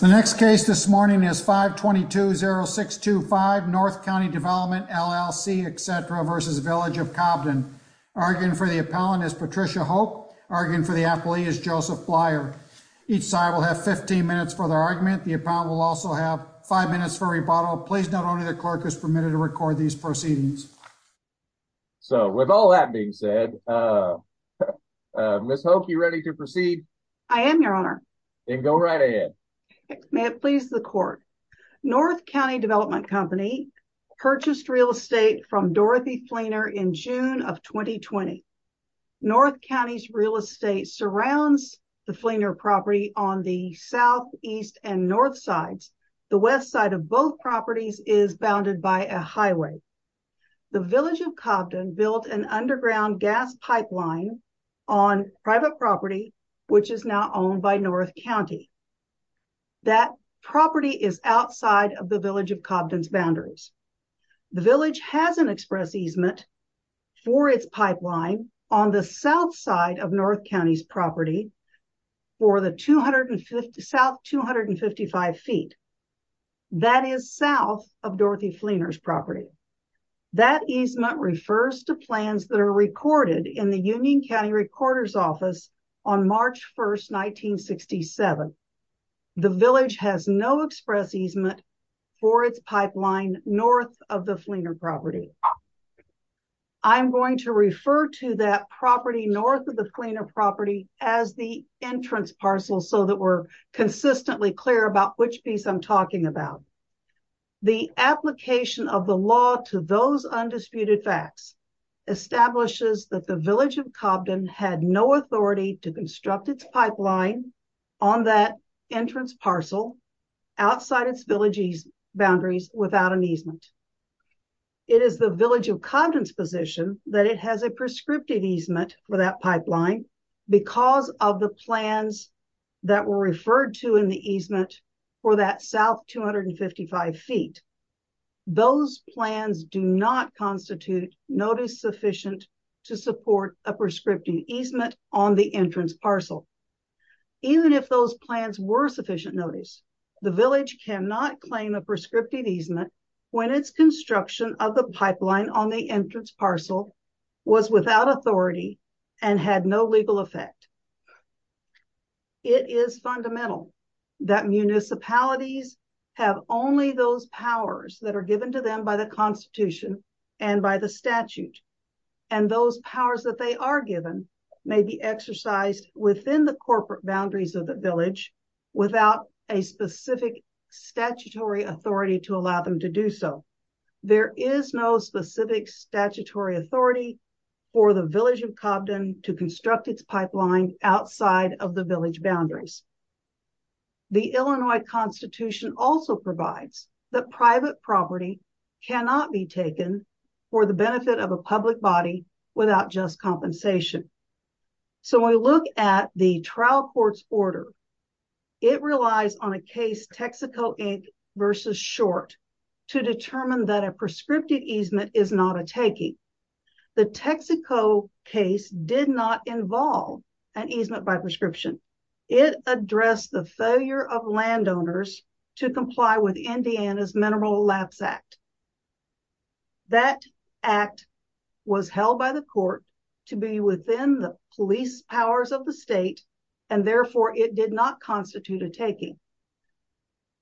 The next case this morning is 522-0625, North County Development, LLC, et cetera, v. Village of Cobden. Arguing for the appellant is Patricia Hope. Arguing for the appellee is Joseph Blyer. Each side will have 15 minutes for their argument. The appellant will also have five minutes for rebuttal. Please note only the clerk is permitted to record these proceedings. So with all that being said, Ms. Hope, you ready to proceed? I am, Your Honor. Then go right ahead. May it please the court. North County Development Company purchased real estate from Dorothy Fleener in June of 2020. North County's real estate surrounds the Fleener property on the south, east, and north sides. The west side of both properties is bounded by a highway. The Village of Cobden built an underground gas pipeline on private property, which is now owned by North County. That property is outside of the Village of Cobden's boundaries. The Village has an express easement for its pipeline on the south side of North County's property for the south 255 feet. That is south of Dorothy Fleener's property. That easement refers to plans that are recorded in the Union County Recorder's Office on March 1st, 1967. The Village has no express easement for its pipeline north of the Fleener property. I'm going to refer to that property north of the Fleener property as the entrance parcel so that we're consistently clear about which piece I'm talking about. The application of the law to those undisputed facts establishes that the Village of Cobden had no authority to construct its pipeline on that entrance parcel outside its Village's boundaries without an easement. It is the Village of Cobden's position that it has a prescriptive easement for that pipeline because of the plans that were referred to in the easement for that south 255 feet. Those plans do not constitute notice sufficient to support a prescriptive easement on the entrance parcel. Even if those plans were sufficient notice, the Village cannot claim a prescriptive easement when its construction of the pipeline on the entrance parcel was without authority and had no legal effect. It is fundamental that municipalities have only those powers that are given to them by the Constitution and by the statute. And those powers that they are given may be exercised within the corporate boundaries of the Village without a specific statutory authority to allow them to do so. There is no specific statutory authority for the Village of Cobden to construct its pipeline outside of the Village boundaries. The Illinois Constitution also provides that private property cannot be taken for the benefit of a public body without just compensation. So when we look at the trial court's order, it relies on a case Texaco Inc versus Short to determine that a prescriptive easement is not a taking. The Texaco case did not involve an easement by prescription. It addressed the failure of landowners to comply with Indiana's Mineral Lapse Act. That act was held by the court to be within the police powers of the state and therefore it did not constitute a taking.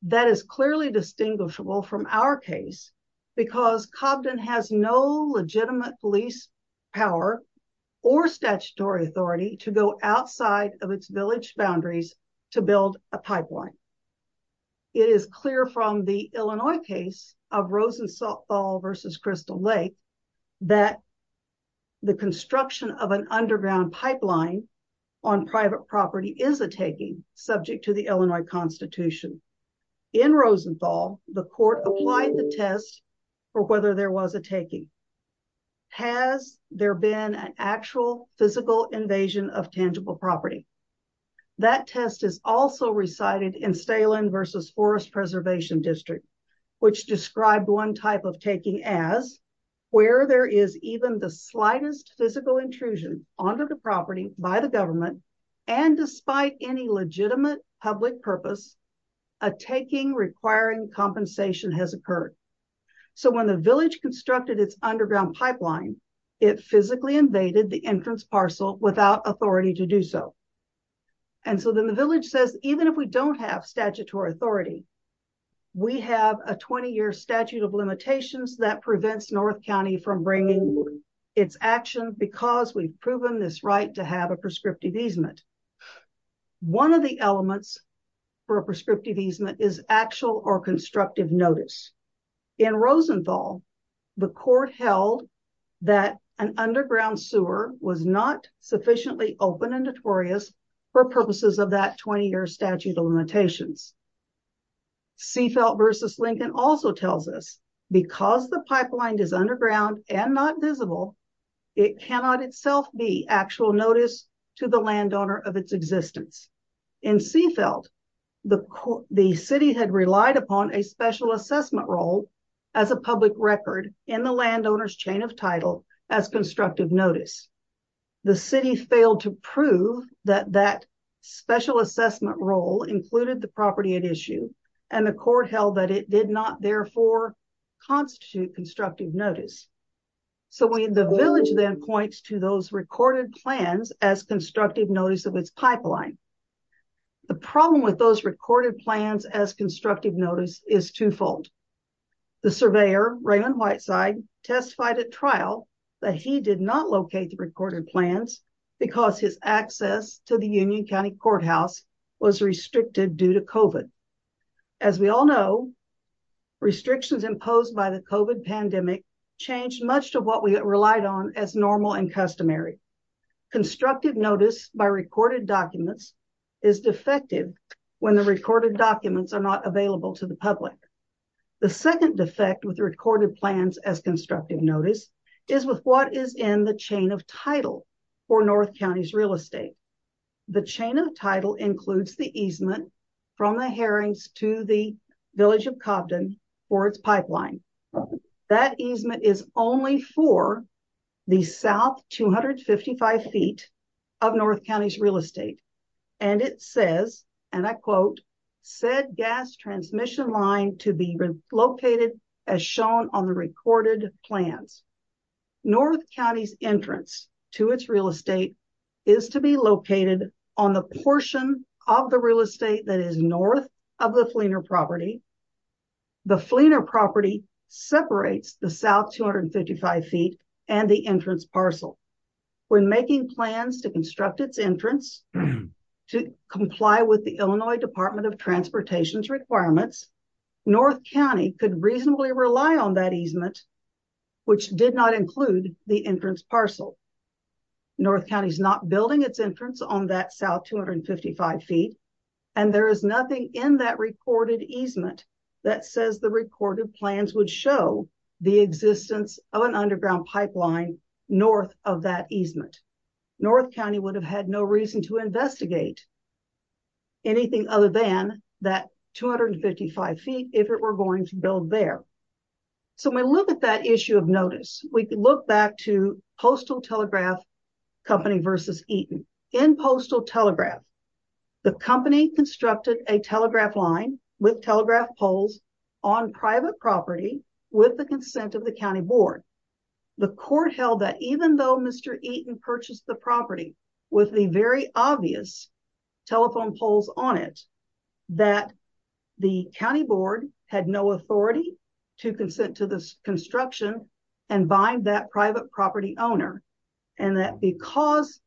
That is clearly distinguishable from our case because Cobden has no legitimate police power or statutory authority to go outside of its Village boundaries to build a pipeline. It is clear from the Illinois case of Rosenthal versus Crystal Lake that the construction of an underground pipeline on private property is a taking subject to the Illinois Constitution. In Rosenthal, the court applied the test for whether there was a taking. Has there been an actual physical invasion of tangible property? That test is also recited in Stalen versus Forest Preservation District, which described one type of taking as where there is even the slightest physical intrusion onto the property by the government and despite any legitimate public purpose, a taking requiring compensation has occurred. So when the Village constructed its underground pipeline, it physically invaded the entrance parcel without authority to do so. And so then the Village says, even if we don't have statutory authority, we have a 20-year statute of limitations that prevents North County from bringing its action because we've proven this right to have a prescriptive easement. One of the elements for a prescriptive easement is actual or constructive notice. In Rosenthal, the court held that an underground sewer was not sufficiently open and notorious for purposes of that 20-year statute of limitations. Seafelt versus Lincoln also tells us because the pipeline is underground and not visible, it cannot itself be actual notice to the landowner of its existence. In Seafelt, the city had relied upon a special assessment role as a public record in the landowner's chain of title as constructive notice. The city failed to prove that that special assessment role included the property at issue and the court held that it did not therefore constitute constructive notice. So the Village then points to those recorded plans as constructive notice of its pipeline. The problem with those recorded plans as constructive notice is twofold. The surveyor Raymond Whiteside testified at trial that he did not locate the recorded plans because his access to the Union County Courthouse was restricted due to COVID. As we all know, restrictions imposed by the COVID pandemic changed much of what we relied on as normal and customary. Constructive notice by recorded documents is defective when the recorded documents are not available to the public. The second defect with the recorded plans as constructive notice is with what is in the chain of title for North County's real estate. The chain of title includes the easement from the herrings to the Village of Cobden for its pipeline. That easement is only for the South 255 feet of North County's real estate. And it says, and I quote, said gas transmission line to be relocated as shown on the recorded plans. North County's entrance to its real estate is to be located on the portion of the real estate that is North of the Fleener property. The Fleener property separates the South 255 feet and the entrance parcel. When making plans to construct its entrance to comply with the Illinois Department of Transportation's requirements, North County could reasonably rely on that easement which did not include the entrance parcel. North County's not building its entrance on that South 255 feet. And there is nothing in that recorded easement that says the recorded plans would show the existence of an underground pipeline North of that easement. North County would have had no reason to investigate anything other than that 255 feet if it were going to build there. So when we look at that issue of notice, we can look back to Postal Telegraph Company versus Eaton. In Postal Telegraph, the company constructed a telegraph line with telegraph poles on private property with the consent of the County Board. The court held that even though Mr. Eaton purchased the property with the very obvious telephone poles on it, that the County Board had no authority to consent to this construction and bind that private property owner. And that because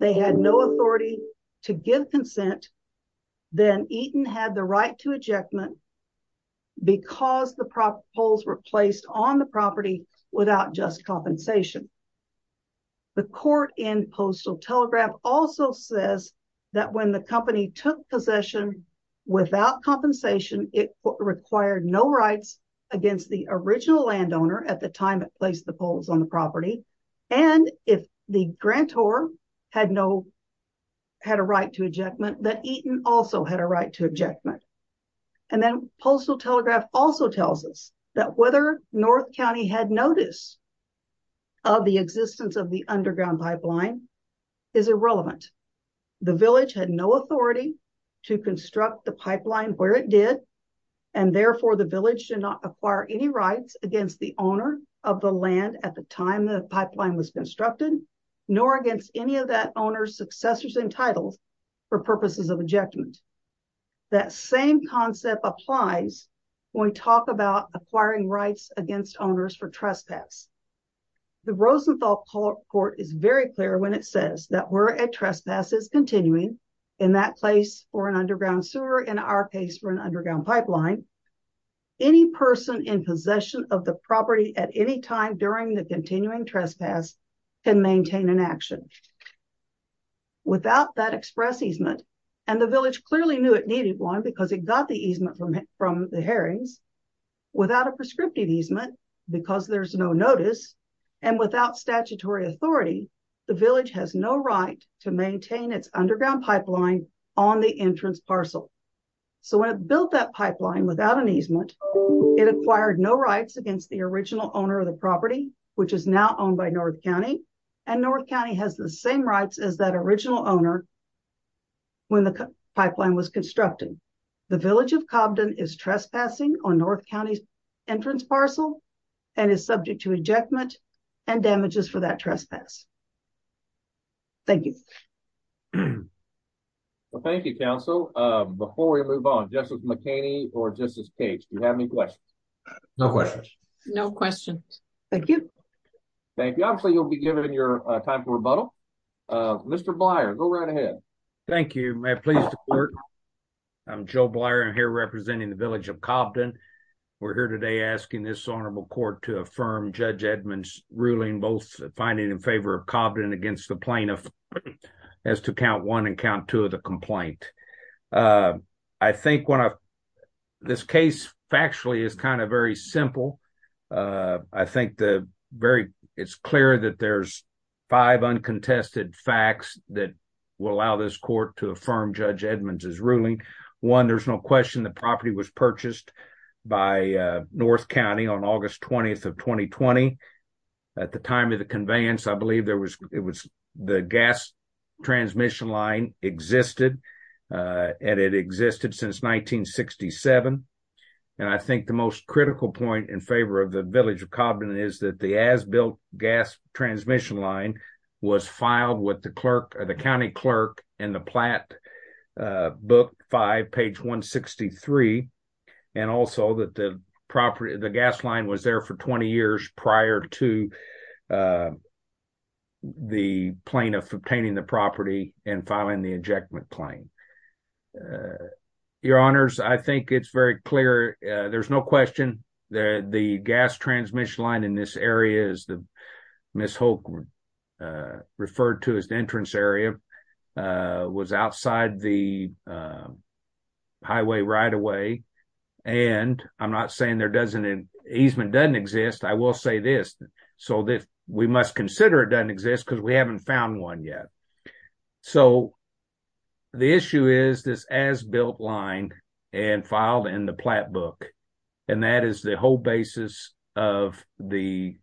they had no authority to give consent, then Eaton had the right to ejectment because the poles were placed on the property without just compensation. The court in Postal Telegraph also says that when the company took possession without compensation, it required no rights against the original landowner at the time it placed the poles on the property and if the grantor had a right to ejectment, that Eaton also had a right to ejectment. And then Postal Telegraph also tells us that whether North County had notice of the existence of the underground pipeline is irrelevant. The village had no authority to construct the pipeline where it did and therefore the village did not acquire any rights against the owner of the land at the time the pipeline was constructed, nor against any of that owner's successors and titles for purposes of ejectment. That same concept applies when we talk about acquiring rights against owners for trespass. The Rosenthal Court is very clear when it says that where a trespass is continuing in that place or an underground sewer in our case for an underground pipeline, any person in possession of the property at any time during the continuing trespass can maintain an action. Without that express easement and the village clearly knew it needed one because it got the easement from the herrings, without a prescriptive easement because there's no notice and without statutory authority, the village has no right to maintain its underground pipeline on the entrance parcel. So when it built that pipeline without an easement, it acquired no rights against the original owner of the property, which is now owned by North County and North County has the same rights as that original owner when the pipeline was constructed. The village of Cobden is trespassing on North County's entrance parcel and is subject to ejectment and damages for that trespass. Thank you. Well, thank you, counsel. Before we move on, Justice McHaney or Justice Cage, do you have any questions? No questions. No questions. Thank you. Thank you. Obviously you'll be given your time for rebuttal. Mr. Blyer, go right ahead. Thank you. May I please report? I'm Joe Blyer. I'm here representing the village of Cobden. We're here today asking this honorable court to affirm Judge Edmund's ruling, both finding in favor of Cobden against the plaintiff as to count one and count two of the complaint. I think this case factually is kind of very simple. I think it's clear that there's five uncontested facts that will allow this court to affirm Judge Edmund's ruling. One, there's no question the property was purchased by North County on August 20th of 2020. At the time of the conveyance, I believe the gas transmission line existed and it existed since 1967. And I think the most critical point in favor of the village of Cobden is that the as-built gas transmission line was filed with the county clerk in the Platt book five, page 163. And also that the gas line was there for 20 years prior to the plaintiff obtaining the property and filing the ejectment claim. Your honors, I think it's very clear. There's no question that the gas transmission line in this area, as Ms. Holk referred to as the entrance area, was outside the highway right of way. And I'm not saying there doesn't, easement doesn't exist. I will say this. So we must consider it doesn't exist because we haven't found one yet. So the issue is this as-built line and filed in the Platt book. And that is the whole basis of the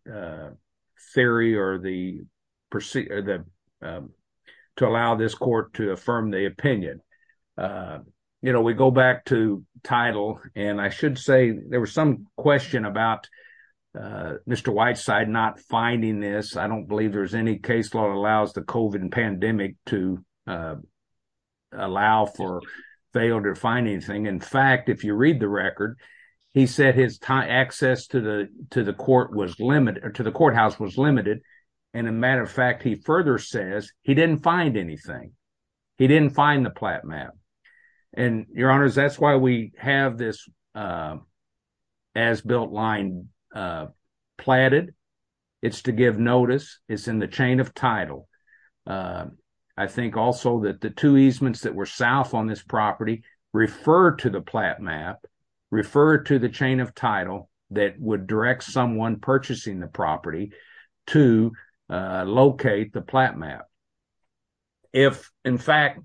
theory or to allow this court to affirm the opinion. We go back to title and I should say there was some question about Mr. Whiteside not finding this. I don't believe there's any case law that allows the COVID pandemic to allow for, fail to find anything. In fact, if you read the record, he said his access to the courthouse was limited. And a matter of fact, he further says he didn't find anything. He didn't find the Platt map. And your honors, that's why we have this as-built line platted. It's to give notice. It's in the chain of title. I think also that the two easements that were south on this property refer to the Platt map, refer to the chain of title that would direct someone purchasing the property to locate the Platt map. If in fact,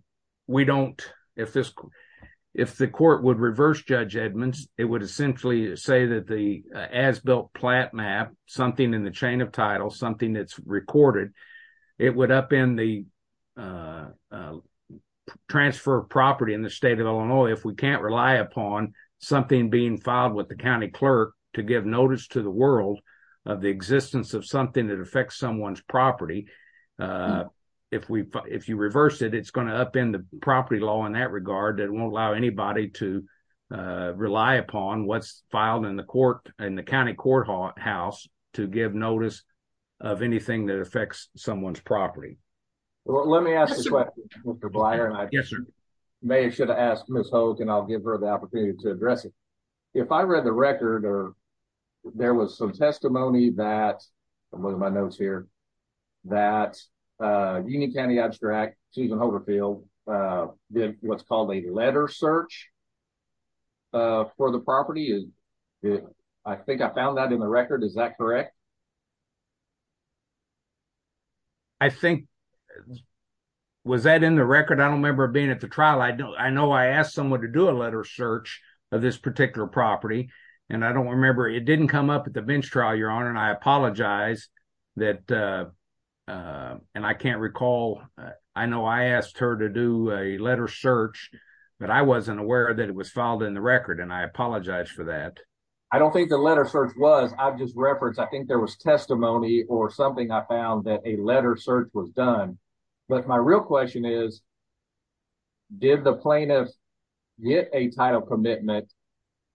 we don't, if the court would reverse Judge Edmonds, it would essentially say that the as-built Platt map, something in the chain of title, something that's recorded, it would upend the transfer of property in the state of Illinois if we can't rely upon something being filed with the county clerk to give notice to the world of the existence of something that affects someone's property. If you reverse it, it's gonna upend the property law in that regard that won't allow anybody to rely upon what's filed in the county courthouse to give notice of anything that affects someone's property. Well, let me ask you a question, Mr. Blatt. Yes, sir. Maybe I should have asked Ms. Holt and I'll give her the opportunity to address it. If I read the record or there was some testimony that, I'm looking at my notes here, that Union County Abstract, Susan Holterfield, did what's called a letter search for the property. I think I found that in the record. Is that correct? I think, was that in the record? I don't remember being at the trial. I know I asked someone to do a letter search of this particular property It didn't come up at the bench trial, Your Honor, and I apologize that, and I can't recall, I know I asked her to do a letter search, but I wasn't aware that it was filed in the record and I apologize for that. I don't think the letter search was, I've just referenced, I think there was testimony or something I found that a letter search was done. But my real question is, did the plaintiff get a title commitment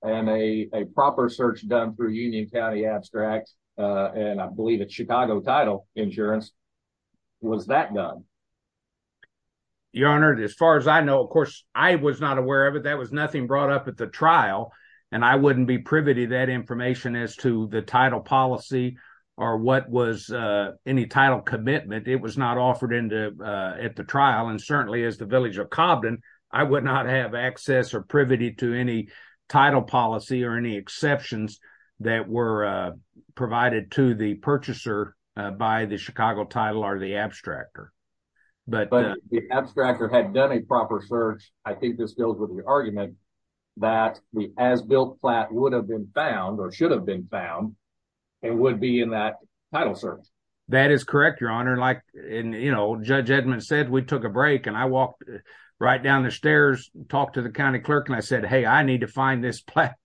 and a proper search done through Union County Abstract, and I believe it's Chicago Title Insurance, was that done? Your Honor, as far as I know, of course, I was not aware of it. That was nothing brought up at the trial, and I wouldn't be privy to that information as to the title policy or what was any title commitment. It was not offered at the trial, and certainly as the village of Cobden, I would not have access or privity to any title policy or any exceptions that were provided to the purchaser by the Chicago Title or the abstractor. But- The abstractor had done a proper search. I think this deals with the argument that the as-built flat would have been found or should have been found and would be in that title search. That is correct, Your Honor. Like Judge Edmund said, we took a break and I walked right down the stairs, talked to the county clerk, and I said, hey, I need to find this flat.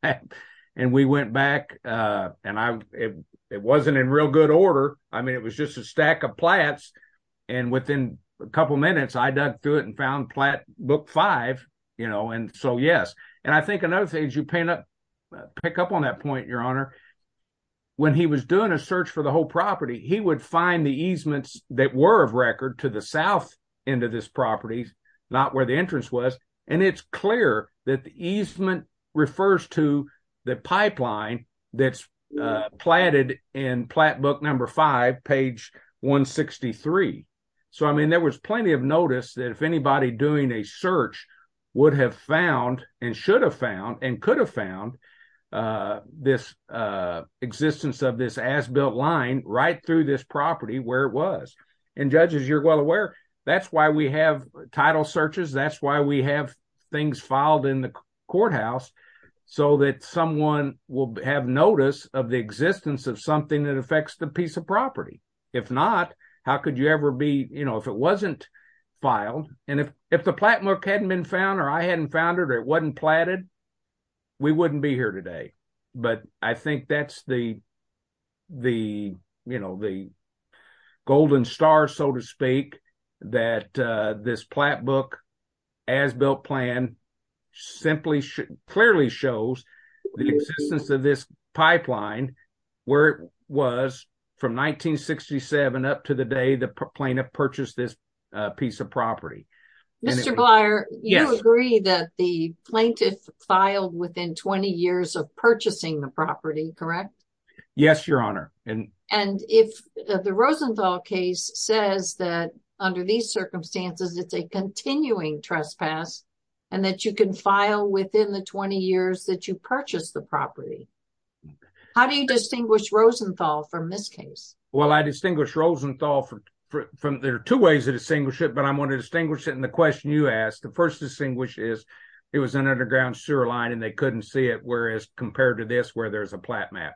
And we went back, and it wasn't in real good order. I mean, it was just a stack of flats, and within a couple of minutes, I dug through it and found book five, and so yes. And I think another thing as you pick up on that point, Your Honor, when he was doing a search for the whole property, he would find the easements that were of record to the south end of this property, not where the entrance was. And it's clear that the easement refers to the pipeline that's platted in flat book number five, page 163. So, I mean, there was plenty of notice that if anybody doing a search would have found and should have found and could have found this existence of this as-built line right through this property where it was. And judges, you're well aware, that's why we have title searches, that's why we have things filed in the courthouse so that someone will have notice of the existence of something that affects the piece of property. If not, how could you ever be, if it wasn't filed, and if the plat book hadn't been found or I hadn't found it or it wasn't platted, we wouldn't be here today. But I think that's the golden story or the star, so to speak, that this plat book as-built plan simply clearly shows the existence of this pipeline where it was from 1967 up to the day the plaintiff purchased this piece of property. Mr. Blyer, you agree that the plaintiff filed within 20 years of purchasing the property, correct? Yes, Your Honor. And if the Rosenthal case says that under these circumstances, it's a continuing trespass and that you can file within the 20 years that you purchased the property, how do you distinguish Rosenthal from this case? Well, I distinguish Rosenthal from, there are two ways to distinguish it, but I'm gonna distinguish it in the question you asked. The first distinguish is it was an underground sewer line and they couldn't see it, whereas compared to this where there's a plat map.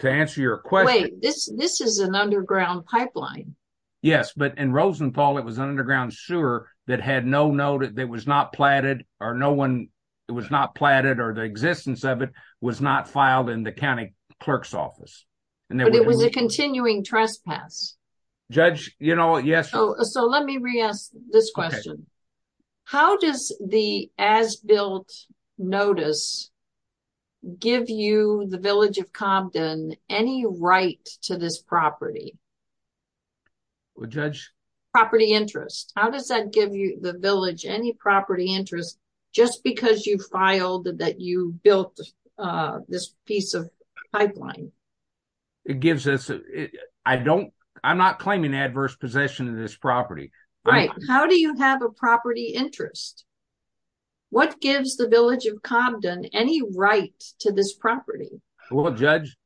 To answer your question- Wait, this is an underground pipeline. Yes, but in Rosenthal, it was an underground sewer that had no note that was not platted or no one, it was not platted or the existence of it was not filed in the county clerk's office. But it was a continuing trespass. Judge, you know, yes- So let me re-ask this question. How does the as-built notice give you, the village of Compton, any right to this property? Well, Judge- Property interest. How does that give you, the village, any property interest just because you filed that you built this piece of pipeline? It gives us, I don't, I'm not claiming adverse possession of this property. Right, how do you have a property interest? What gives the village of Compton any right to this property? Well, Judge,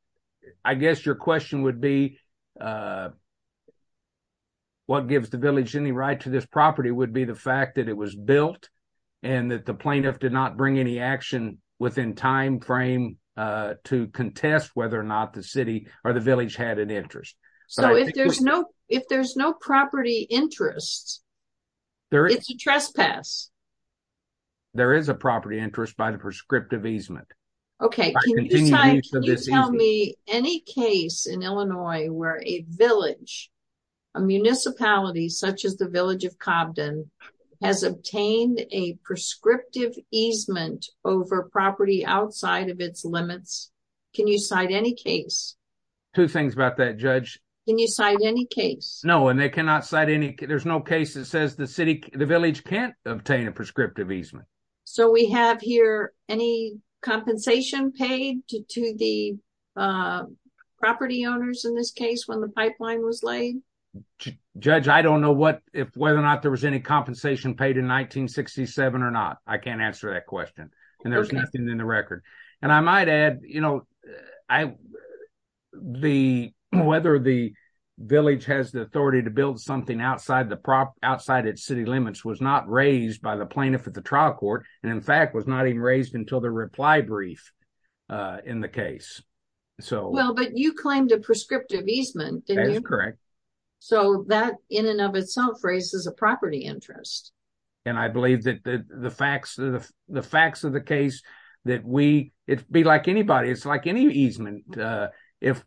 I guess your question would be, what gives the village any right to this property would be the fact that it was built and that the plaintiff did not bring any action within time frame to contest whether or not the city or the village had an interest. So if there's no property interest, it's a trespass. There is a property interest by the prescriptive easement. Okay, can you tell me any case in Illinois where a village, a municipality, such as the village of Compton, has obtained a prescriptive easement over property outside of its limits? Can you cite any case? Two things about that, Judge. Can you cite any case? No, and they cannot cite any, there's no case that says the village can't obtain a prescriptive easement. So we have here any compensation paid to the property owners in this case when the pipeline was laid? Judge, I don't know whether or not there was any compensation paid in 1967 or not. I can't answer that question. And there's nothing in the record. And I might add, whether the village has the authority to build something outside its city limits was not raised by the plaintiff at the trial court. And in fact, was not even raised until the reply brief in the case. So- Well, but you claimed a prescriptive easement, didn't you? That is correct. So that in and of itself raises a property interest. And I believe that the facts of the case, that we, it'd be like anybody, it's like any easement. If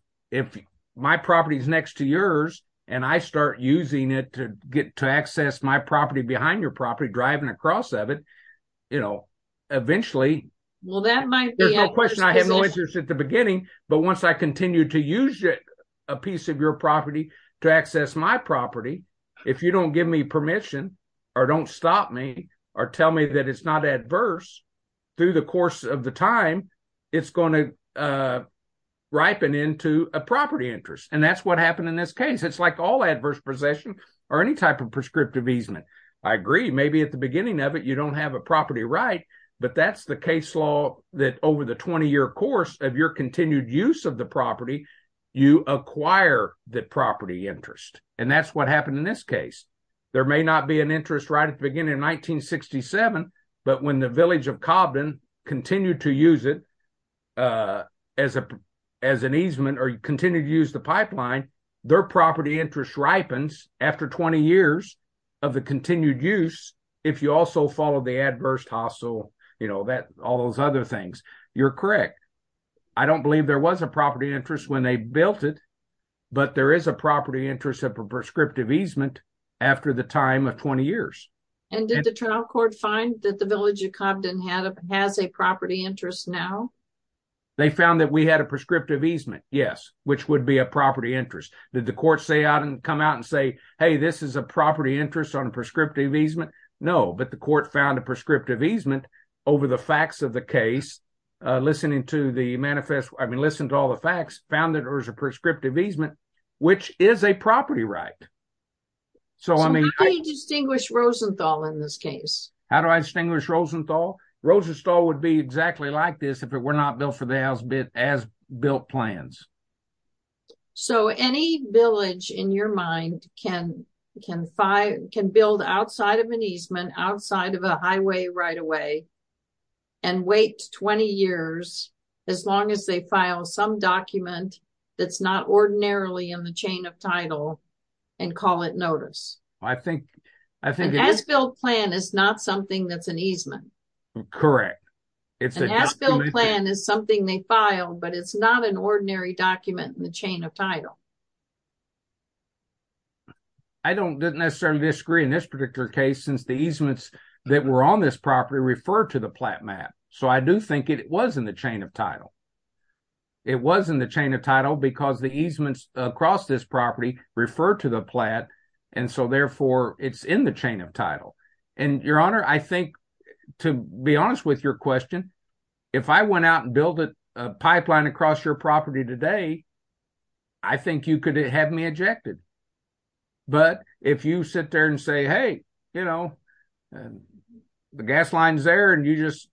my property is next to yours and I start using it to access my property behind your property, driving across of it, eventually- Well, that might be- There's no question I have no interest at the beginning, but once I continue to use a piece of your property to access my property, if you don't give me permission or don't stop me or tell me that it's not adverse through the course of the time, it's gonna ripen into a property interest. And that's what happened in this case. It's like all adverse possession or any type of prescriptive easement. I agree, maybe at the beginning of it, you don't have a property right, but that's the case law that over the 20-year course of your continued use of the property, you acquire the property interest. And that's what happened in this case. There may not be an interest right at the beginning of 1967, but when the village of Cobden continued to use it as an easement or continued to use the pipeline, their property interest ripens after 20 years of the continued use, if you also follow the adverse hostile, all those other things. You're correct. I don't believe there was a property interest when they built it, but there is a property interest of a prescriptive easement after the time of 20 years. And did the trial court find that the village of Cobden has a property interest now? They found that we had a prescriptive easement, yes, which would be a property interest. Did the court say out and come out and say, hey, this is a property interest on a prescriptive easement? No, but the court found a prescriptive easement over the facts of the case, listening to the manifest, I mean, listen to all the facts, found that there was a prescriptive easement, which is a property right. So I mean- How do you distinguish Rosenthal in this case? How do I distinguish Rosenthal? Rosenthal would be exactly like this if it were not built for the as-built plans. So any village in your mind can build outside of an easement, outside of a highway right away, and wait 20 years as long as they file some document that's not ordinarily in the chain of title and call it notice. I think- An as-built plan is not something that's an easement. Correct. An as-built plan is something they filed, but it's not an ordinary document in the chain of title. I don't necessarily disagree in this particular case since the easements that were on this property refer to the plat map. So I do think it was in the chain of title. It was in the chain of title because the easements across this property refer to the plat, and so therefore it's in the chain of title. And Your Honor, I think, to be honest with your question, if I went out and built a pipeline across your property today, I think you could have me ejected. But if you sit there and say, hey, the gas line's there and you just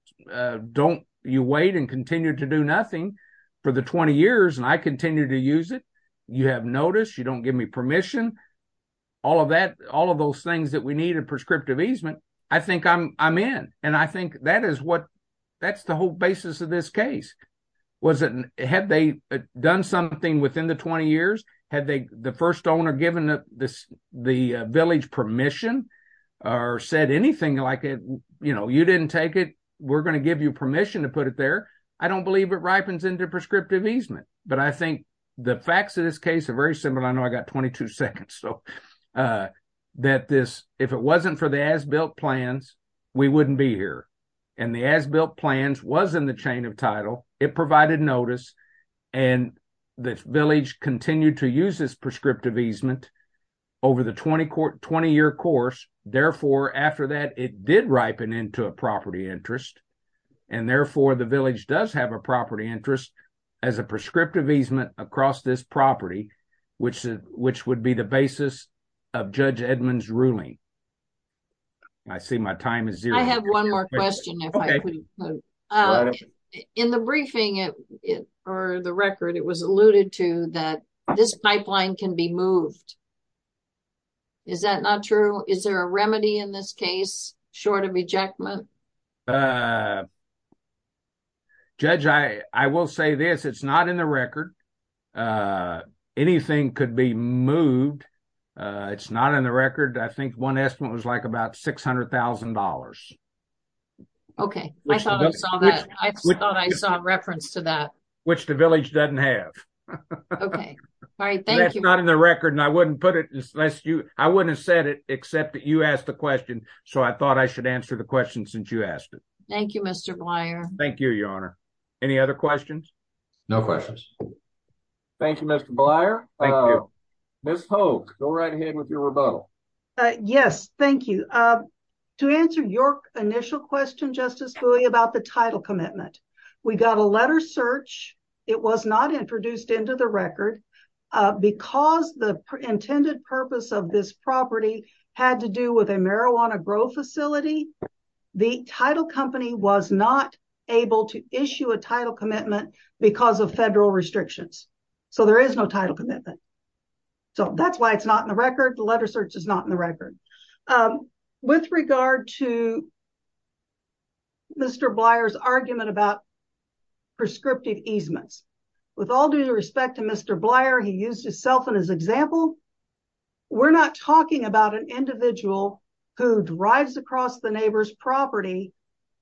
don't, you wait and continue to do nothing for the 20 years and I continue to use it, you have notice, you don't give me permission, all of that, all of those things that we need to prescriptive easement, I think I'm in. And I think that is what, that's the whole basis of this case. Was it, had they done something within the 20 years? Had they, the first owner given the village permission or said anything like, you know, you didn't take it, we're gonna give you permission to put it there. I don't believe it ripens into prescriptive easement. But I think the facts of this case are very similar. I know I got 22 seconds. So that this, if it wasn't for the as-built plans, we wouldn't be here. And the as-built plans was in the chain of title, it provided notice, and the village continued to use this prescriptive easement over the 20-year course. Therefore, after that, it did ripen into a property interest. And therefore, the village does have a property interest as a prescriptive easement across this property, which would be the basis of Judge Edmund's ruling. I see my time is zero. I have one more question, if I could. In the briefing, or the record, it was alluded to that this pipeline can be moved. Is that not true? Is there a remedy in this case, short of ejectment? Judge, I will say this, it's not in the record. Anything could be moved. It's not in the record. I think one estimate was like about $600,000. Okay, I thought I saw that. I thought I saw a reference to that. Which the village doesn't have. Okay, all right, thank you. That's not in the record, and I wouldn't put it unless you, I wouldn't have said it except that you asked the question. So I thought I should answer the question since you asked it. Thank you, Mr. Blyer. Thank you, Your Honor. Any other questions? No questions. Thank you, Mr. Blyer. Thank you. Ms. Hogue, go right ahead with your rebuttal. Yes, thank you. To answer your initial question, Justice Bowie, about the title commitment, we got a letter search. It was not introduced into the record. Because the intended purpose of this property had to do with a marijuana grow facility, the title company was not able to issue a title commitment because of federal restrictions. So there is no title commitment. So that's why it's not in the record. The letter search is not in the record. With regard to Mr. Blyer's argument about prescriptive easements, with all due respect to Mr. Blyer, he used himself in his example. We're not talking about an individual who drives across the neighbor's property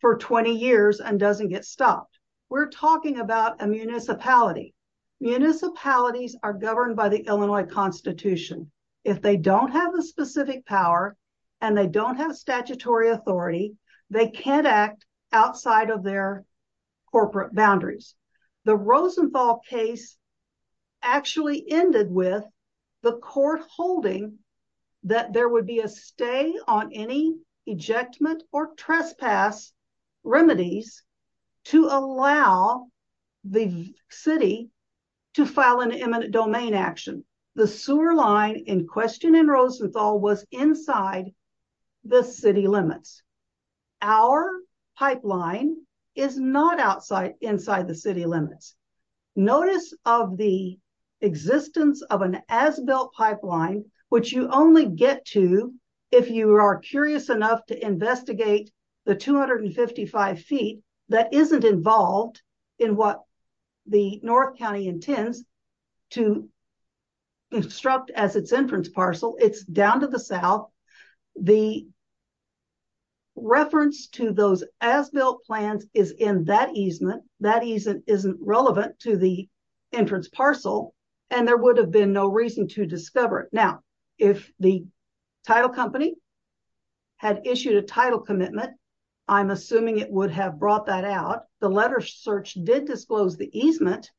for 20 years and doesn't get stopped. We're talking about a municipality. Municipalities are governed by the Illinois Constitution. If they don't have a specific power and they don't have statutory authority, they can't act outside of their corporate boundaries. The Rosenthal case actually ended with the court holding that there would be a stay on any ejectment or trespass remedies to allow the city to file an eminent domain action. The sewer line in question in Rosenthal was inside the city limits. Our pipeline is not inside the city limits. Notice of the existence of an as-built pipeline, which you only get to if you are curious enough to investigate the 255 feet that isn't involved in what the North County intends to instruct as its entrance parcel. It's down to the South. The reference to those as-built plans is in that easement. That easement isn't relevant to the entrance parcel and there would have been no reason to discover it. Now, if the title company had issued a title commitment, I'm assuming it would have brought that out. The letter search did disclose the easement,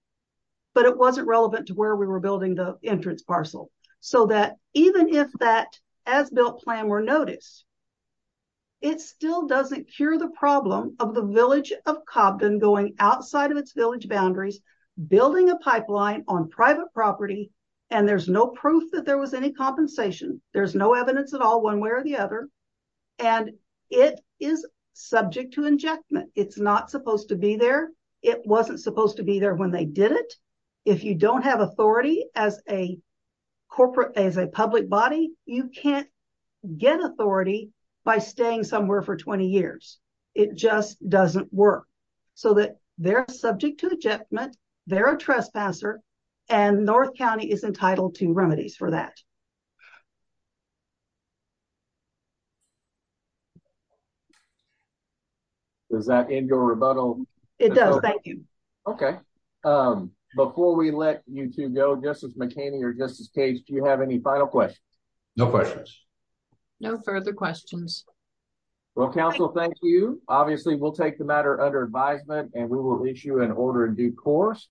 but it wasn't relevant to where we were building the entrance parcel. So that even if that as-built plan were noticed, it still doesn't cure the problem of the village of Cobden going outside of its village boundaries, building a pipeline on private property, and there's no proof that there was any compensation. There's no evidence at all one way or the other. And it is subject to injectment. It's not supposed to be there. It wasn't supposed to be there when they did it. If you don't have authority as a public body, you can't get authority by staying somewhere for 20 years. It just doesn't work. So that they're subject to injectment, they're a trespasser, and North County is entitled to remedies for that. Does that end your rebuttal? It does, thank you. Okay. Before we let you two go, Justice McHaney or Justice Cage, do you have any final questions? No questions. No further questions. Well, counsel, thank you. Obviously, we'll take the matter under advisement and we will reach you in order in due course.